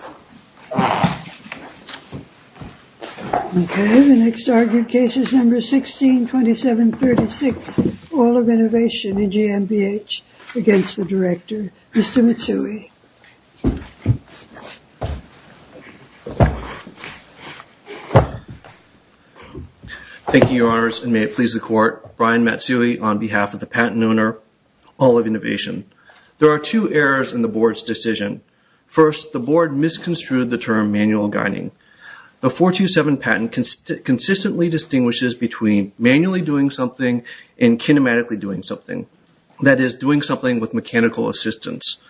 Thank you, Your Honors, and may it please the Court, Brian Matsui on behalf of the Patent Owner, All-of-Innovation. There are two errors in the Board's decision. First, the Board misconstrued the term manual guiding. The 427 patent consistently distinguishes between manually doing something and kinematically doing something, that is, doing something with mechanical assistance.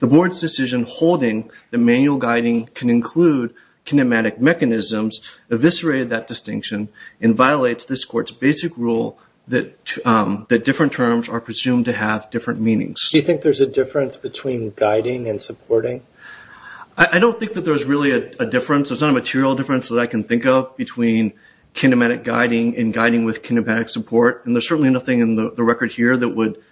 The Board's decision holding that manual guiding can include kinematic mechanisms eviscerated that distinction and violates this Court's basic rule that different terms are presumed to have different meanings. Do you think there's a difference between guiding and supporting? I don't think that there's really a difference. There's not a material difference that I can think of between kinematic guiding and guiding with kinematic support, and there's certainly nothing in the record here that would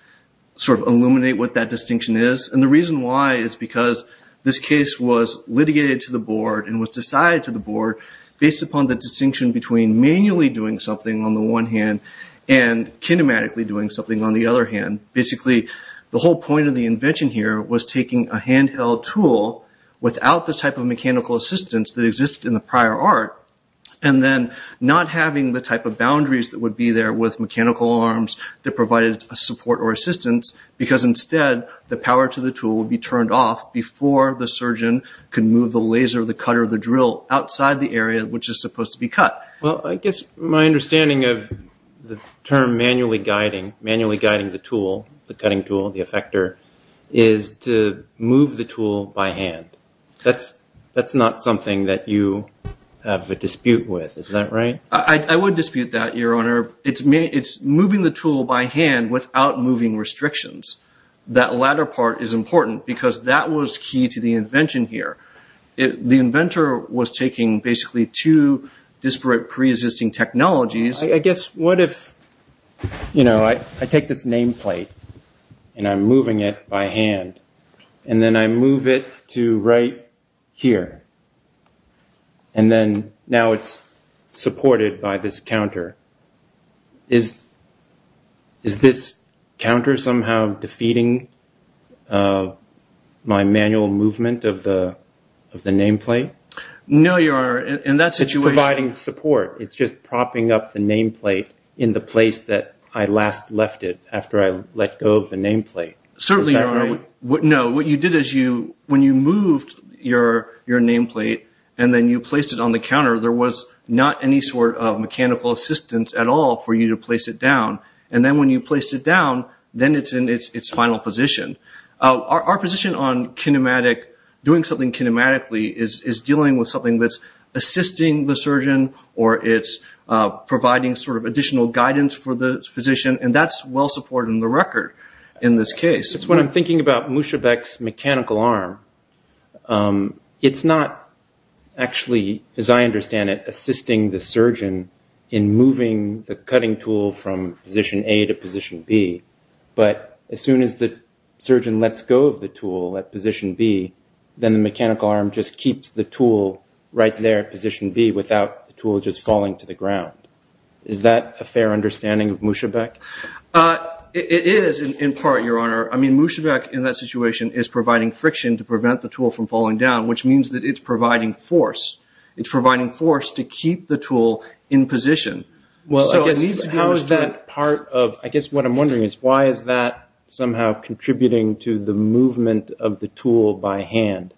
sort of illuminate what that distinction is. And the reason why is because this case was litigated to the Board and was decided to the Board based upon the distinction between manually doing something on the one hand and kinematically doing something on the other hand. Basically, the whole point of the invention here was taking a handheld tool without the type of mechanical assistance that existed in the prior art, and then not having the type of boundaries that would be there with mechanical arms that provided a support or assistance, because instead the power to the tool would be turned off before the surgeon could move the laser, the cutter, or the drill outside the area which is supposed to be cut. Well, I guess my understanding of the term manually guiding, manually guiding the tool, the cutting tool, the effector, is to move the tool by hand. That's not something that you have a dispute with. Is that right? I would dispute that, Your Honor. It's moving the tool by hand without moving restrictions. That latter part is important because that was key to the invention here. The inventor was taking basically two disparate pre-existing technologies. I guess what if I take this nameplate and I'm moving it by hand, and then I move it to right here, and then now it's supported by this counter. Is this counter somehow defeating my manual movement of the nameplate? No, Your Honor. In that situation... It's providing support. It's just propping up the nameplate in the place that I last left it after I let go of the nameplate. Is that right? Certainly, Your Honor. No. What you did is when you moved your nameplate and then you placed it on the counter, there was not any sort of mechanical assistance at all for you to place it down. Then when you placed it down, then it's in its final position. Our position on doing something kinematically is dealing with something that's assisting the surgeon or it's providing additional guidance for the physician. That's well supported in the record in this case. When I'm thinking about Mushavek's mechanical arm, it's not actually, as I understand it, in moving the cutting tool from position A to position B, but as soon as the surgeon lets go of the tool at position B, then the mechanical arm just keeps the tool right there at position B without the tool just falling to the ground. Is that a fair understanding of Mushavek? It is in part, Your Honor. I mean, Mushavek in that situation is providing friction to prevent the tool from falling down, which means that it's providing force. It's providing force to keep the tool in position. I guess what I'm wondering is why is that somehow contributing to the movement of the tool by hand,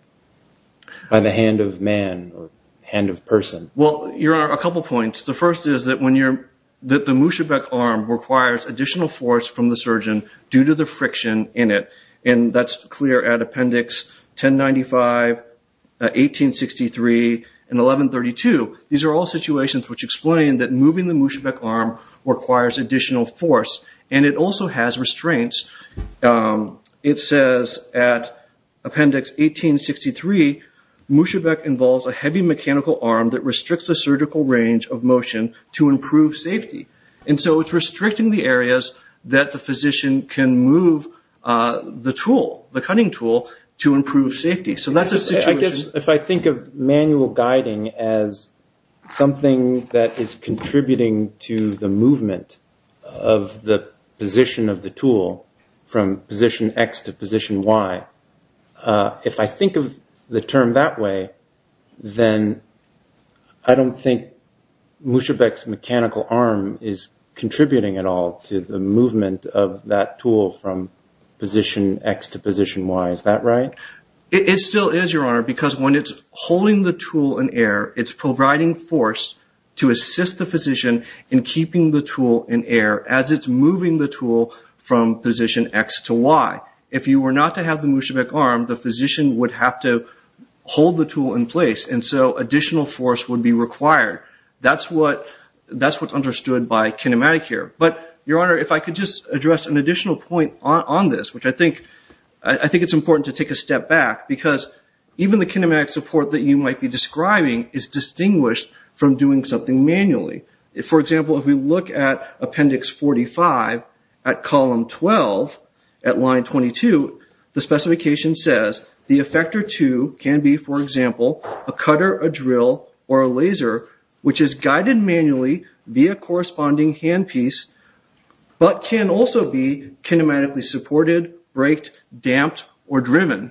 by the hand of man or hand of person? Well, Your Honor, a couple of points. The first is that the Mushavek arm requires additional force from the surgeon due to the friction in it. That's clear at Appendix 1095, 1863, and 1132. These are all situations which explain that moving the Mushavek arm requires additional force, and it also has restraints. It says at Appendix 1863, Mushavek involves a heavy mechanical arm that restricts the surgical range of motion to improve safety. And so it's restricting the areas that the physician can move the tool, the cutting tool, to improve safety. So that's the situation. If I think of manual guiding as something that is contributing to the movement of the position of the tool from position X to position Y, if I think of the term that way, then I don't think Mushavek's mechanical arm is contributing at all to the movement of that tool from position X to position Y. Is that right? It still is, Your Honor, because when it's holding the tool in air, it's providing force to assist the physician in keeping the tool in air as it's moving the tool from position X to Y. If you were not to have the Mushavek arm, the physician would have to hold the tool in place, and so additional force would be required. That's what's understood by kinematic here. But, Your Honor, if I could just address an additional point on this, which I think it's important to take a step back, because even the kinematic support that you might be describing is distinguished from doing something manually. For example, if we look at Appendix 45 at Column 12 at Line 22, the specification says, the effector 2 can be, for example, a cutter, a drill, or a laser, which is guided manually via a corresponding handpiece, but can also be kinematically supported, braked, damped, or driven.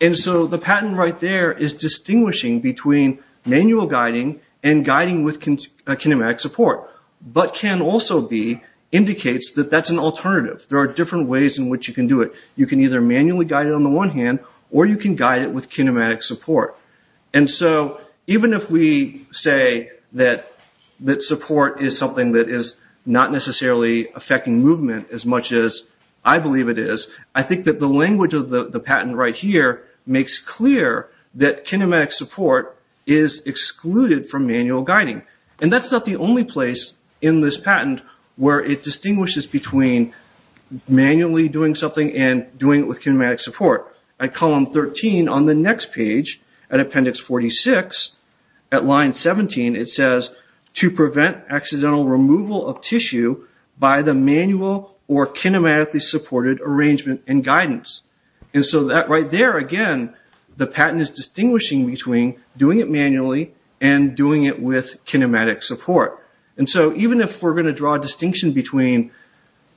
The patent right there is distinguishing between manual guiding and guiding with kinematic support, but can also be indicates that that's an alternative. There are different ways in which you can do it. You can either manually guide it on the one hand, or you can guide it with kinematic support. Even if we say that support is something that is not necessarily affecting movement as much as I believe it is, I think that the language of the patent right here makes clear that kinematic support is excluded from manual guiding. That's not the only place in this patent where it distinguishes between manually doing something and doing it with kinematic support. At Column 13 on the next page, at Appendix 46, at Line 17, it says, to prevent accidental removal of tissue by the manual or kinematically supported arrangement and guidance. That right there, again, the patent is distinguishing between doing it manually and doing it with kinematic support. Even if we're going to draw a distinction between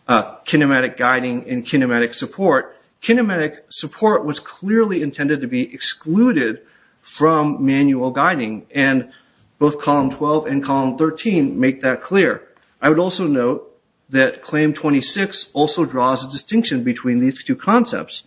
kinematic guiding and kinematic support, kinematic support was clearly intended to be excluded from manual guiding. Both Column 12 and Column 13 make that clear. I would also note that Claim 26 also draws a distinction between these two concepts.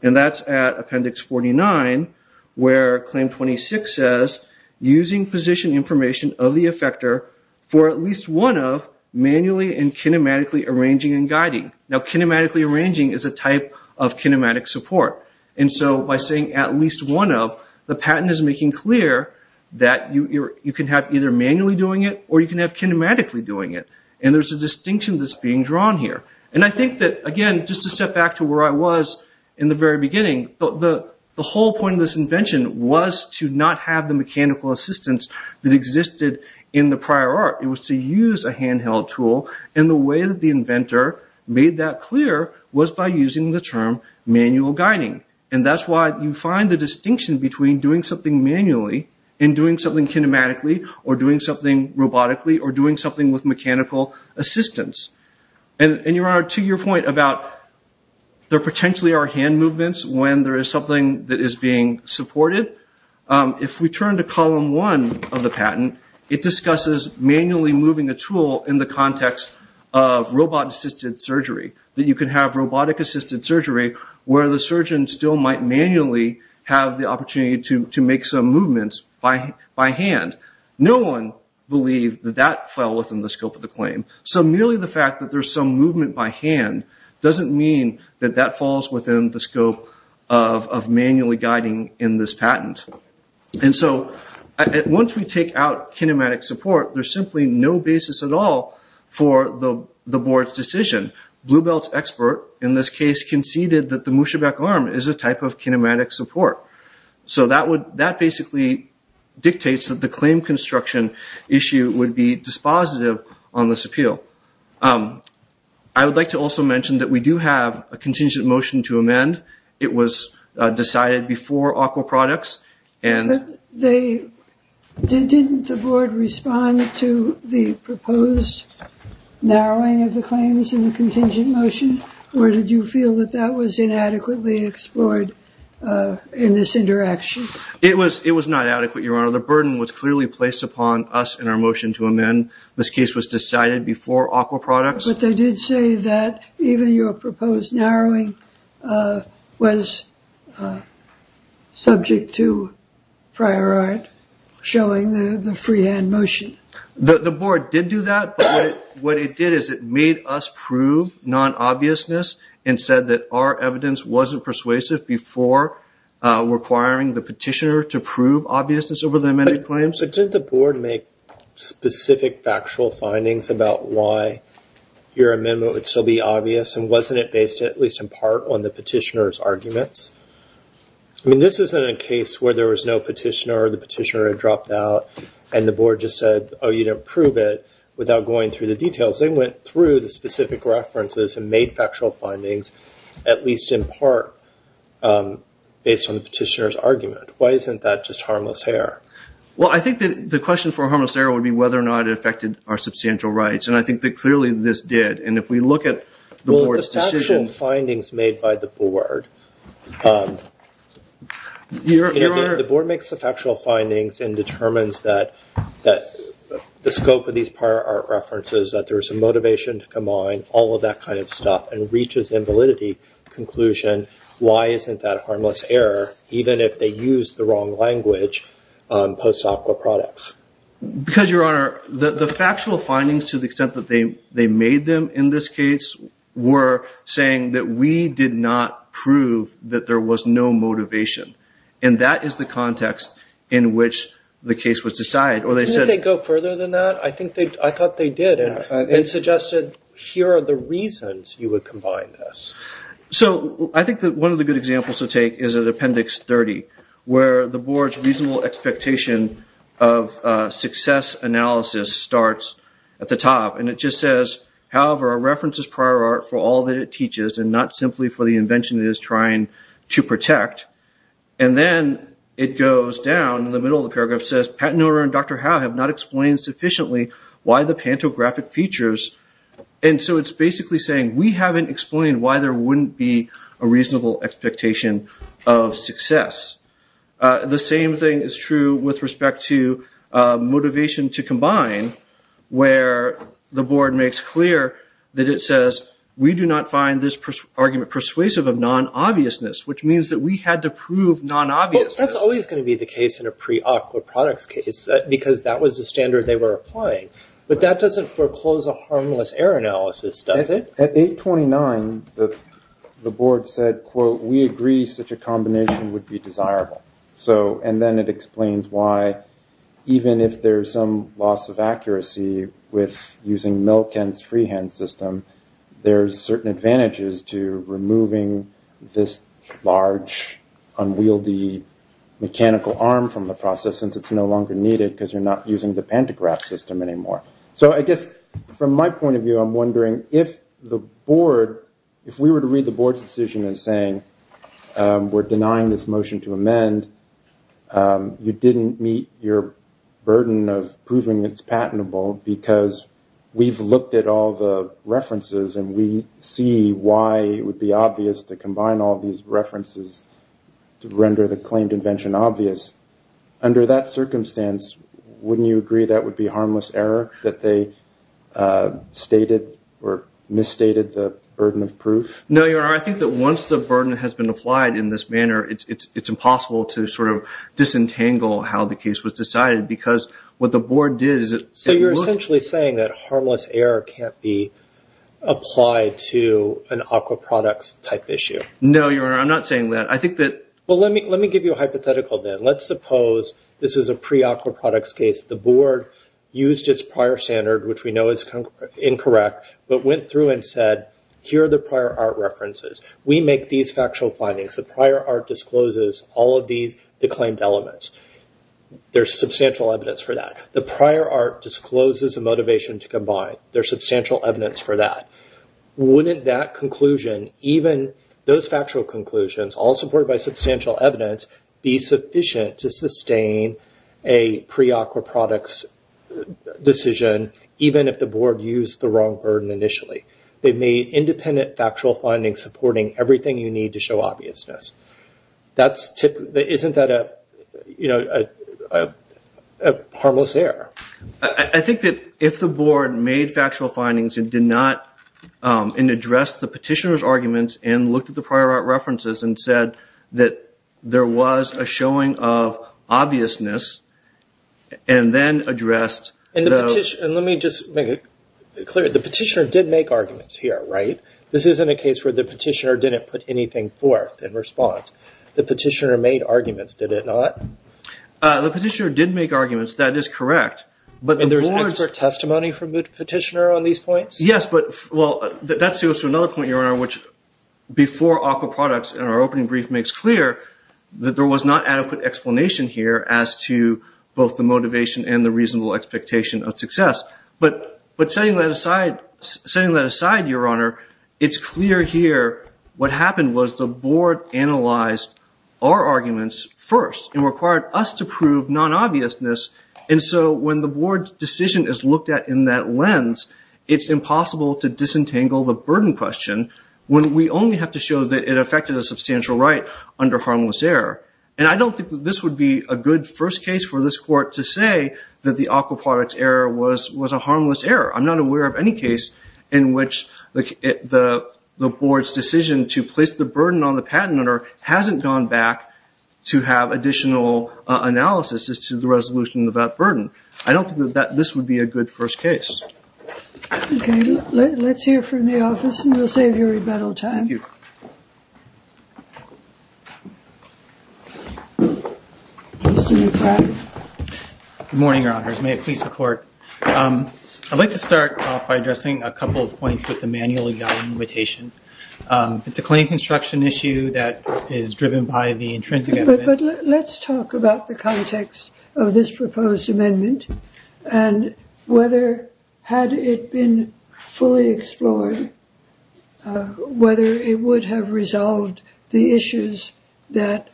That's at Appendix 49, where Claim 26 says, using position information of the effector for at least one of manually and kinematically arranging and guiding. Kinematically arranging is a type of kinematic support. By saying at least one of, the patent is making clear that you can have either manually doing it or you can have kinematically doing it. There's a distinction that's being drawn here. I think that, again, just to step back to where I was in the very beginning, the whole point of this invention was to not have the mechanical assistance that existed in the prior art. It was to use a handheld tool. The way that the inventor made that clear was by using the term manual guiding. That's why you find the distinction between doing something manually and doing something kinematically, or doing something robotically, or doing something with mechanical assistance. Your Honor, to your point about there potentially are hand movements when there is something that is being supported, if we turn to Column 1 of the patent, it discusses manually moving a tool in the context of robot-assisted surgery that you can have robotic-assisted surgery where the surgeon still might manually have the opportunity to make some movements by hand. No one believed that that fell within the scope of the claim. Merely the fact that there's some movement by hand doesn't mean that that falls within the scope of manually guiding in this patent. Once we take out kinematic support, there's simply no basis at all for the Board's decision. Bluebelt's expert in this case conceded that the Musibek arm is a type of kinematic support. So that basically dictates that the claim construction issue would be dispositive on this appeal. I would like to also mention that we do have a contingent motion to amend. It was decided before Aqua Products. But didn't the Board respond to the proposed narrowing of the claims in the contingent motion? Or did you feel that that was inadequately explored in this interaction? It was not adequate, Your Honor. The burden was clearly placed upon us in our motion to amend. This case was decided before Aqua Products. But they did say that even your proposed narrowing was subject to prior art showing the free-hand motion. The Board did do that. But what it did is it made us prove non-obviousness and said that our evidence wasn't persuasive before requiring the petitioner to prove obviousness over the amended claims. So didn't the Board make specific factual findings about why your amendment would still be obvious? And wasn't it based at least in part on the petitioner's arguments? I mean, this isn't a case where there was no petitioner and it dropped out and the Board just said, oh, you don't prove it without going through the details. They went through the specific references and made factual findings at least in part based on the petitioner's argument. Why isn't that just harmless error? Well, I think the question for harmless error would be whether or not it affected our substantial rights. And I think that clearly this did. And if we look at the Board's decision... The Board makes the factual findings and determines that the scope of these prior art references, that there was some motivation to combine all of that kind of stuff and reaches the invalidity conclusion. Why isn't that harmless error, even if they use the wrong language post SOC or products? Because, Your Honor, the factual findings to the extent that they made them in this case were saying that we did not prove that there was no motivation. And that is the context in which the case was decided. Didn't they go further than that? I thought they did. It suggested here are the reasons you would combine this. So I think that one of the good examples to take is at Appendix 30, where the Board's reasonable expectation of success analysis starts at the top. And it just says, however, our reference is prior art for all that it is to protect. And then it goes down in the middle of the paragraph and says, Pat Noerer and Dr. Howe have not explained sufficiently why the pantographic features. And so it's basically saying we haven't explained why there wouldn't be a reasonable expectation of success. The same thing is true with respect to motivation to combine, where the Board makes clear that it says we do not find this argument persuasive of non-obviousness, which means that we had to prove non-obviousness. Well, that's always going to be the case in a pre-UCC or products case, because that was the standard they were applying. But that doesn't foreclose a harmless error analysis, does it? At 829, the Board said, quote, we agree such a combination would be desirable. And then it explains why, even if there's some loss of accuracy with using Milken's freehand system, there's certain advantages to removing this large, unwieldy mechanical arm from the process, since it's no longer needed because you're not using the pantograph system anymore. So I guess from my point of view, I'm wondering if the Board, if we were to read the Board's decision as saying we're denying this motion to amend, you didn't meet your burden of proving it's patentable, because we've looked at all the references, and we see why it would be obvious to combine all these references to render the claimed invention obvious. Under that circumstance, wouldn't you agree that would be harmless error, that they stated or misstated the burden of proof? No, Your Honor, I think that once the burden has been applied in this manner, it's impossible to sort of disentangle how the case was decided, because what the Board did is it... So you're essentially saying that harmless error can't be applied to an aquaproducts type issue? No, Your Honor, I'm not saying that. I think that... Well, let me give you a hypothetical then. Let's suppose this is a pre-aquaproducts case. The Board used its prior standard, which we know is incorrect, but went through and said, here are the prior art references. We make these factual findings. The prior art discloses all of these claimed elements. There's substantial evidence for that. The prior art discloses a motivation to combine. There's substantial evidence for that. Wouldn't that conclusion, even those factual conclusions, all supported by substantial evidence, be sufficient to sustain a pre-aquaproducts decision, even if the Board used the wrong burden initially? They made independent factual findings supporting everything you need to show obviousness. Isn't that a harmless error? I think that if the Board made factual findings and addressed the petitioner's arguments and looked at the prior art references and said that there was a showing of obviousness and then addressed the... Let me just make it clear. The petitioner did make arguments here, right? This isn't a case where the petitioner didn't put anything forth in response. The petitioner made arguments, did it not? The petitioner did make arguments. That is correct. There's expert testimony from the petitioner on these points? Yes. That's another point, Your Honor, which before aquaproducts in our opening brief makes clear that there was not adequate explanation here as to both the motivation and the reasonable expectation of success. But setting that aside, Your Honor, it's clear here what happened was the Board analyzed our arguments first and required us to prove non-obviousness. When the Board's decision is looked at in that lens, it's impossible to disentangle the burden question when we only have to show that it affected a substantial right under harmless error. I don't think that this would be a good first case for this Court to say that the aquaproducts error was a harmless error. I'm not aware of any case in which the Board's decision to place the burden on the patent owner hasn't gone back to have additional analysis as to the resolution of that burden. I don't think that this would be a good first case. Okay. Let's hear from the office and we'll save you rebuttal time. Good morning, Your Honors. May it please the Court. I'd like to start off by addressing a couple of points with the manual evaluation. It's a claim construction issue that is driven by the intrinsic evidence. Let's talk about the context of this proposed amendment and whether, had it been fully explored, whether it would have resolved the issues that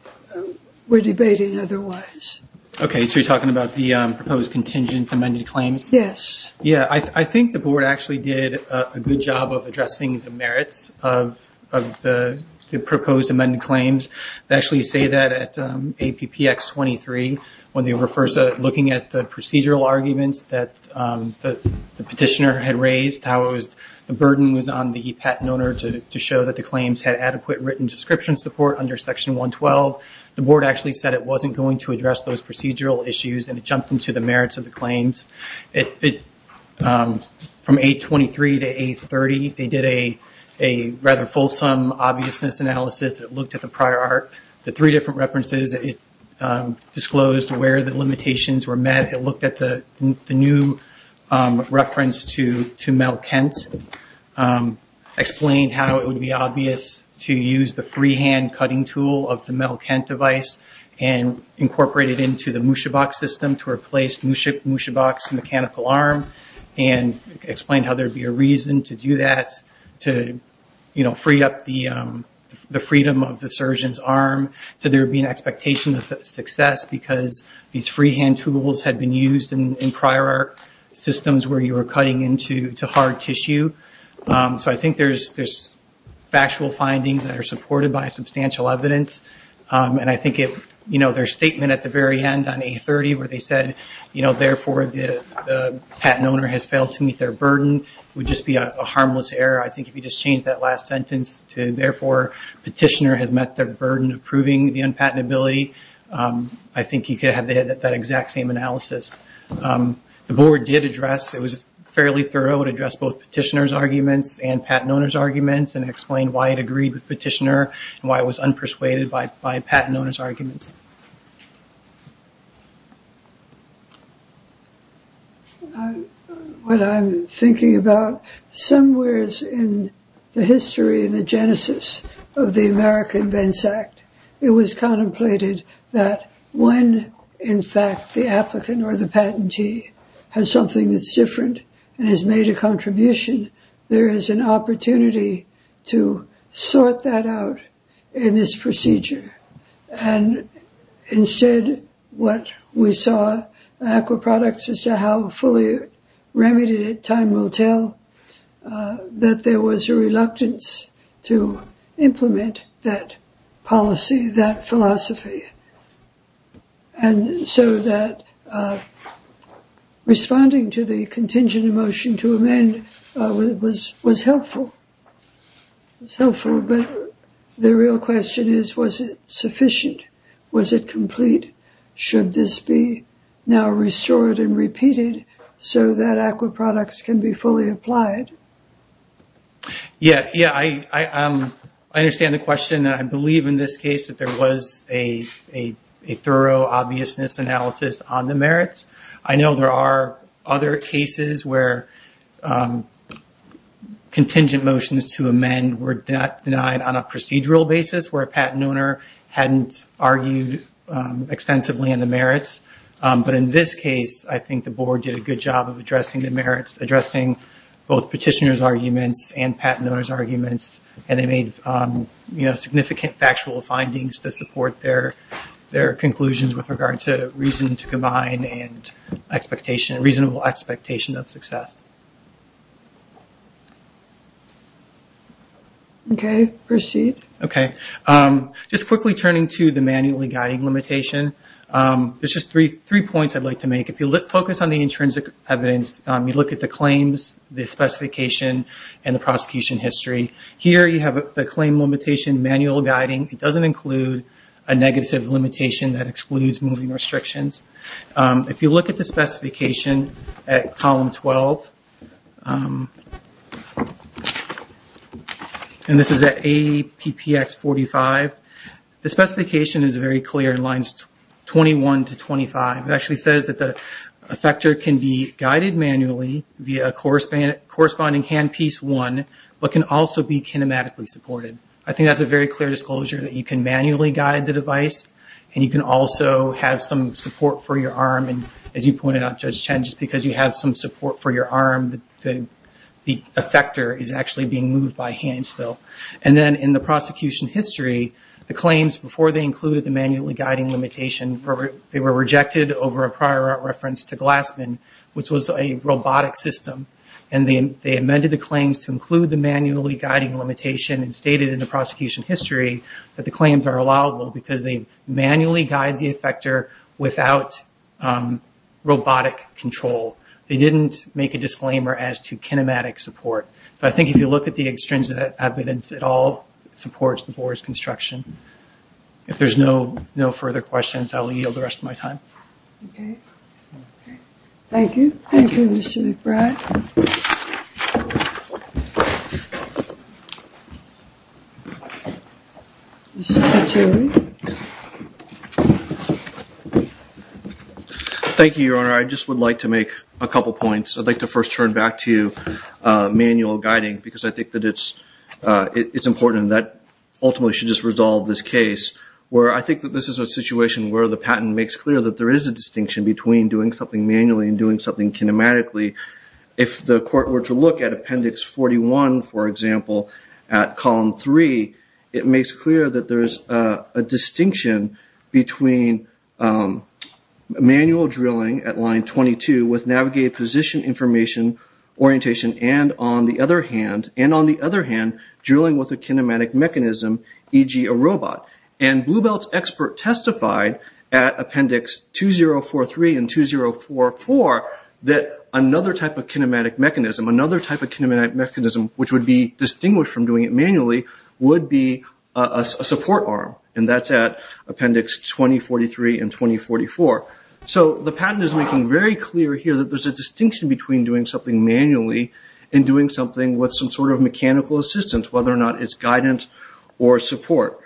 we're debating otherwise. Okay. So you're talking about the proposed contingent amended claims? Yes. Yeah. I think the Board actually did a good job of addressing the merits of the proposed amended claims. They actually say that at APPX 23, when they were first looking at the procedural arguments that the petitioner had raised, how the burden was on the patent owner to show that the claims had adequate written description support under Section 112, the Board actually said it wasn't going to address those procedural issues and it jumped into the merits of the claims. From 823 to 830, they did a rather fulsome obviousness analysis that looked at the prior art. The three different references disclosed where the limitations were met. It looked at the new reference to Mel Kent, explained how it would be obvious to use the freehand cutting tool of the Mel Kent device and incorporate it into the Mushabox system to replace Mushabox's mechanical arm, and explained how there would be a reason to do that, to free up the freedom of the surgeon's arm, so there would be an expectation of success because these freehand tools had been used in prior art systems where you were cutting into hard tissue. I think there's factual findings that are supported by substantial evidence. I think their statement at the very end on 830 where they said, therefore, the patent owner has failed to meet their burden, would just be a harmless error. I think if you just change that last sentence to, therefore, petitioner has met their burden of proving the unpatentability, I think you could have that exact same analysis. The board did address, it was fairly thorough, it addressed both petitioner's arguments and patent owner's arguments and explained why it agreed with petitioner and why it was unpersuaded by patent owner's arguments. What I'm thinking about, somewheres in the history and the genesis of the American Vence Act, it was contemplated that when, in fact, the applicant or the patentee has something that's different and has made a contribution, there is an opportunity to sort that out in this procedure. Instead, what we saw in AQUA products as to how fully remedied it, time will tell, that there was a reluctance to implement that policy, that philosophy. And so that responding to the contingent emotion to amend was helpful. It was helpful, but the real question is, was it sufficient? Was it complete? Should this be now restored and be fully applied? Yeah. I understand the question and I believe in this case that there was a thorough obviousness analysis on the merits. I know there are other cases where contingent motions to amend were denied on a procedural basis where a patent owner hadn't argued extensively on the merits. But in this case, I think the board did a good job of addressing the merits, addressing both petitioner's arguments and patent owner's arguments, and they made significant factual findings to support their conclusions with regard to reason to combine and reasonable expectation of success. Okay. Proceed. Okay. Just quickly turning to the manually guiding limitation, there's just three points I'd like to make. If you focus on the intrinsic evidence, you look at the claims, the specification and the prosecution history. Here you have the claim limitation manual guiding. It doesn't include a negative limitation that excludes moving restrictions. If you look at the specification at column 12, and this is at APPX 45, the specification is very clear in lines 21 to 25. It actually says that the effector can be guided manually via a corresponding handpiece one, but can also be kinematically supported. I think that's a very clear disclosure that you can manually guide the device and you can also have some support for your arm. As you pointed out, Judge Chen, just because you have some support for your arm, the effector is actually being moved by hand still. Then, in the prosecution history, the claims before they included the manually guiding limitation, they were rejected over a prior reference to Glassman, which was a robotic system. They amended the claims to include the manually guiding limitation and stated in the prosecution history that the claims are allowable because they manually guide the effector without robotic control. They didn't make a disclaimer as to kinematic support. I think if you look at the extrinsic evidence, it all supports the board's construction. If there are no further questions, I will yield the rest of my time. Thank you. Thank you, Mr. McBride. Thank you, Your Honor. I just would like to make a couple points. I'd like to first turn back to manual guiding because I think that it's important and that ultimately should just resolve this case where I think that this is a situation where the patent makes clear that there is a distinction between doing something manually and doing something kinematically. If the court were to look at Appendix 41, for example, at Column 3, it makes clear that there is a distinction between manual drilling at Line 22 with navigated position information orientation and, on the other hand, drilling with a kinematic mechanism, e.g. a robot. And Bluebelt's expert testified at Appendix 2043 and 2044 that another type of kinematic mechanism, another type of kinematic mechanism which would be distinguished from doing it manually, would be a support arm. And that's at Appendix 2043 and 2044. So the patent is making very clear here that there's a distinction between doing something manually and doing something with some sort of mechanical assistance, whether or not it's guidance or support.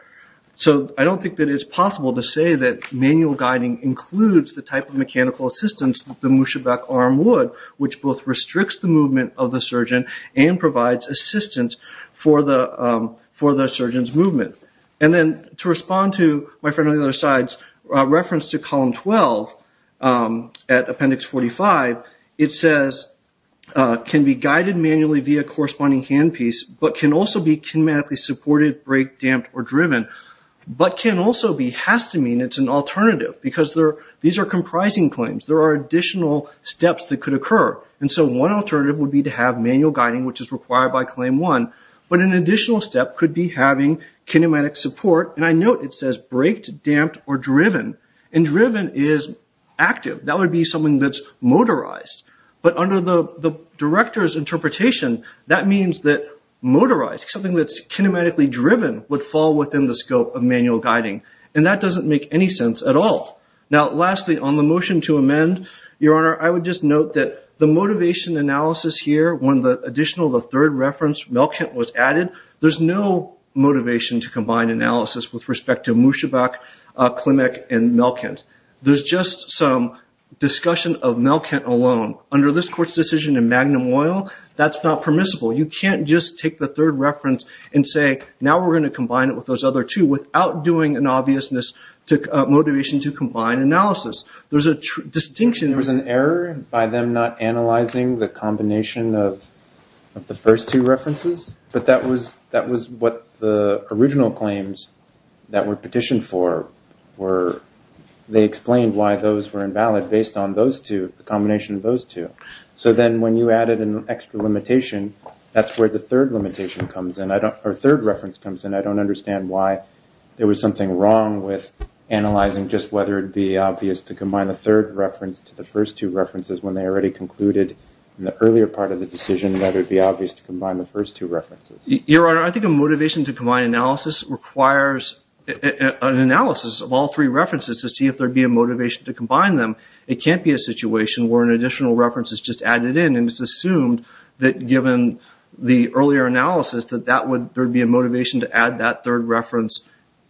So I don't think that it's possible to say that manual guiding includes the type of mechanical assistance that the Mushebek arm would, which both restricts the movement of the surgeon and provides assistance for the surgeon's movement. And then to respond to my friend on the other side's reference to Column 12 at Appendix 45, it says, can be guided manually via corresponding handpiece, but can also be kinematically supported, break, damped, or driven, but can also be, has to mean it's an alternative because these are comprising claims. There are additional steps that could occur. And so one alternative would be to have manual guiding, which is required by Claim 1, but an additional step could be having kinematic support. And I note it says break, damped, or driven. And driven is active. That would be something that's motorized. But under the director's interpretation, that means that motorized, something that's kinematically driven, would fall within the scope of manual guiding. And that doesn't make any sense at all. Now, lastly, on the motion to amend, Your Honor, I would just note that the motivation analysis here, when the additional, the third reference, Melkint, was added, there's no motivation to combine analysis with respect to Mushebek, Klimek, and Melkint. There's just some discussion of Melkint alone. Under this court's decision in Magnum Oil, that's not permissible. You can't just take the third reference and say, now we're going to combine it with those other two without doing an obvious motivation to combine analysis. There's a distinction. There was an error by them not analyzing the combination of the first two references, but that was what the original claims that were petitioned for were. They explained why those were invalid based on those two, the combination of those two. So then when you added an extra limitation, that's where the third limitation comes in, or third reference comes in. I don't understand why there was something wrong with analyzing just whether it'd be obvious to combine the third reference to the first two references when they already concluded in the earlier part of the decision whether it'd be obvious to combine the first two references. Your Honor, I think a motivation to combine analysis requires an analysis of all three references to see if there'd be a motivation to combine them. It can't be a situation where an additional reference is just added in and it's assumed that given the earlier analysis that there would be a motivation to add that third reference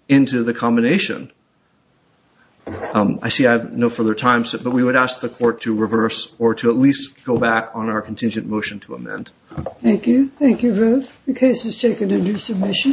into the combination. I see I have no further time, but we would ask the court to take it into submission.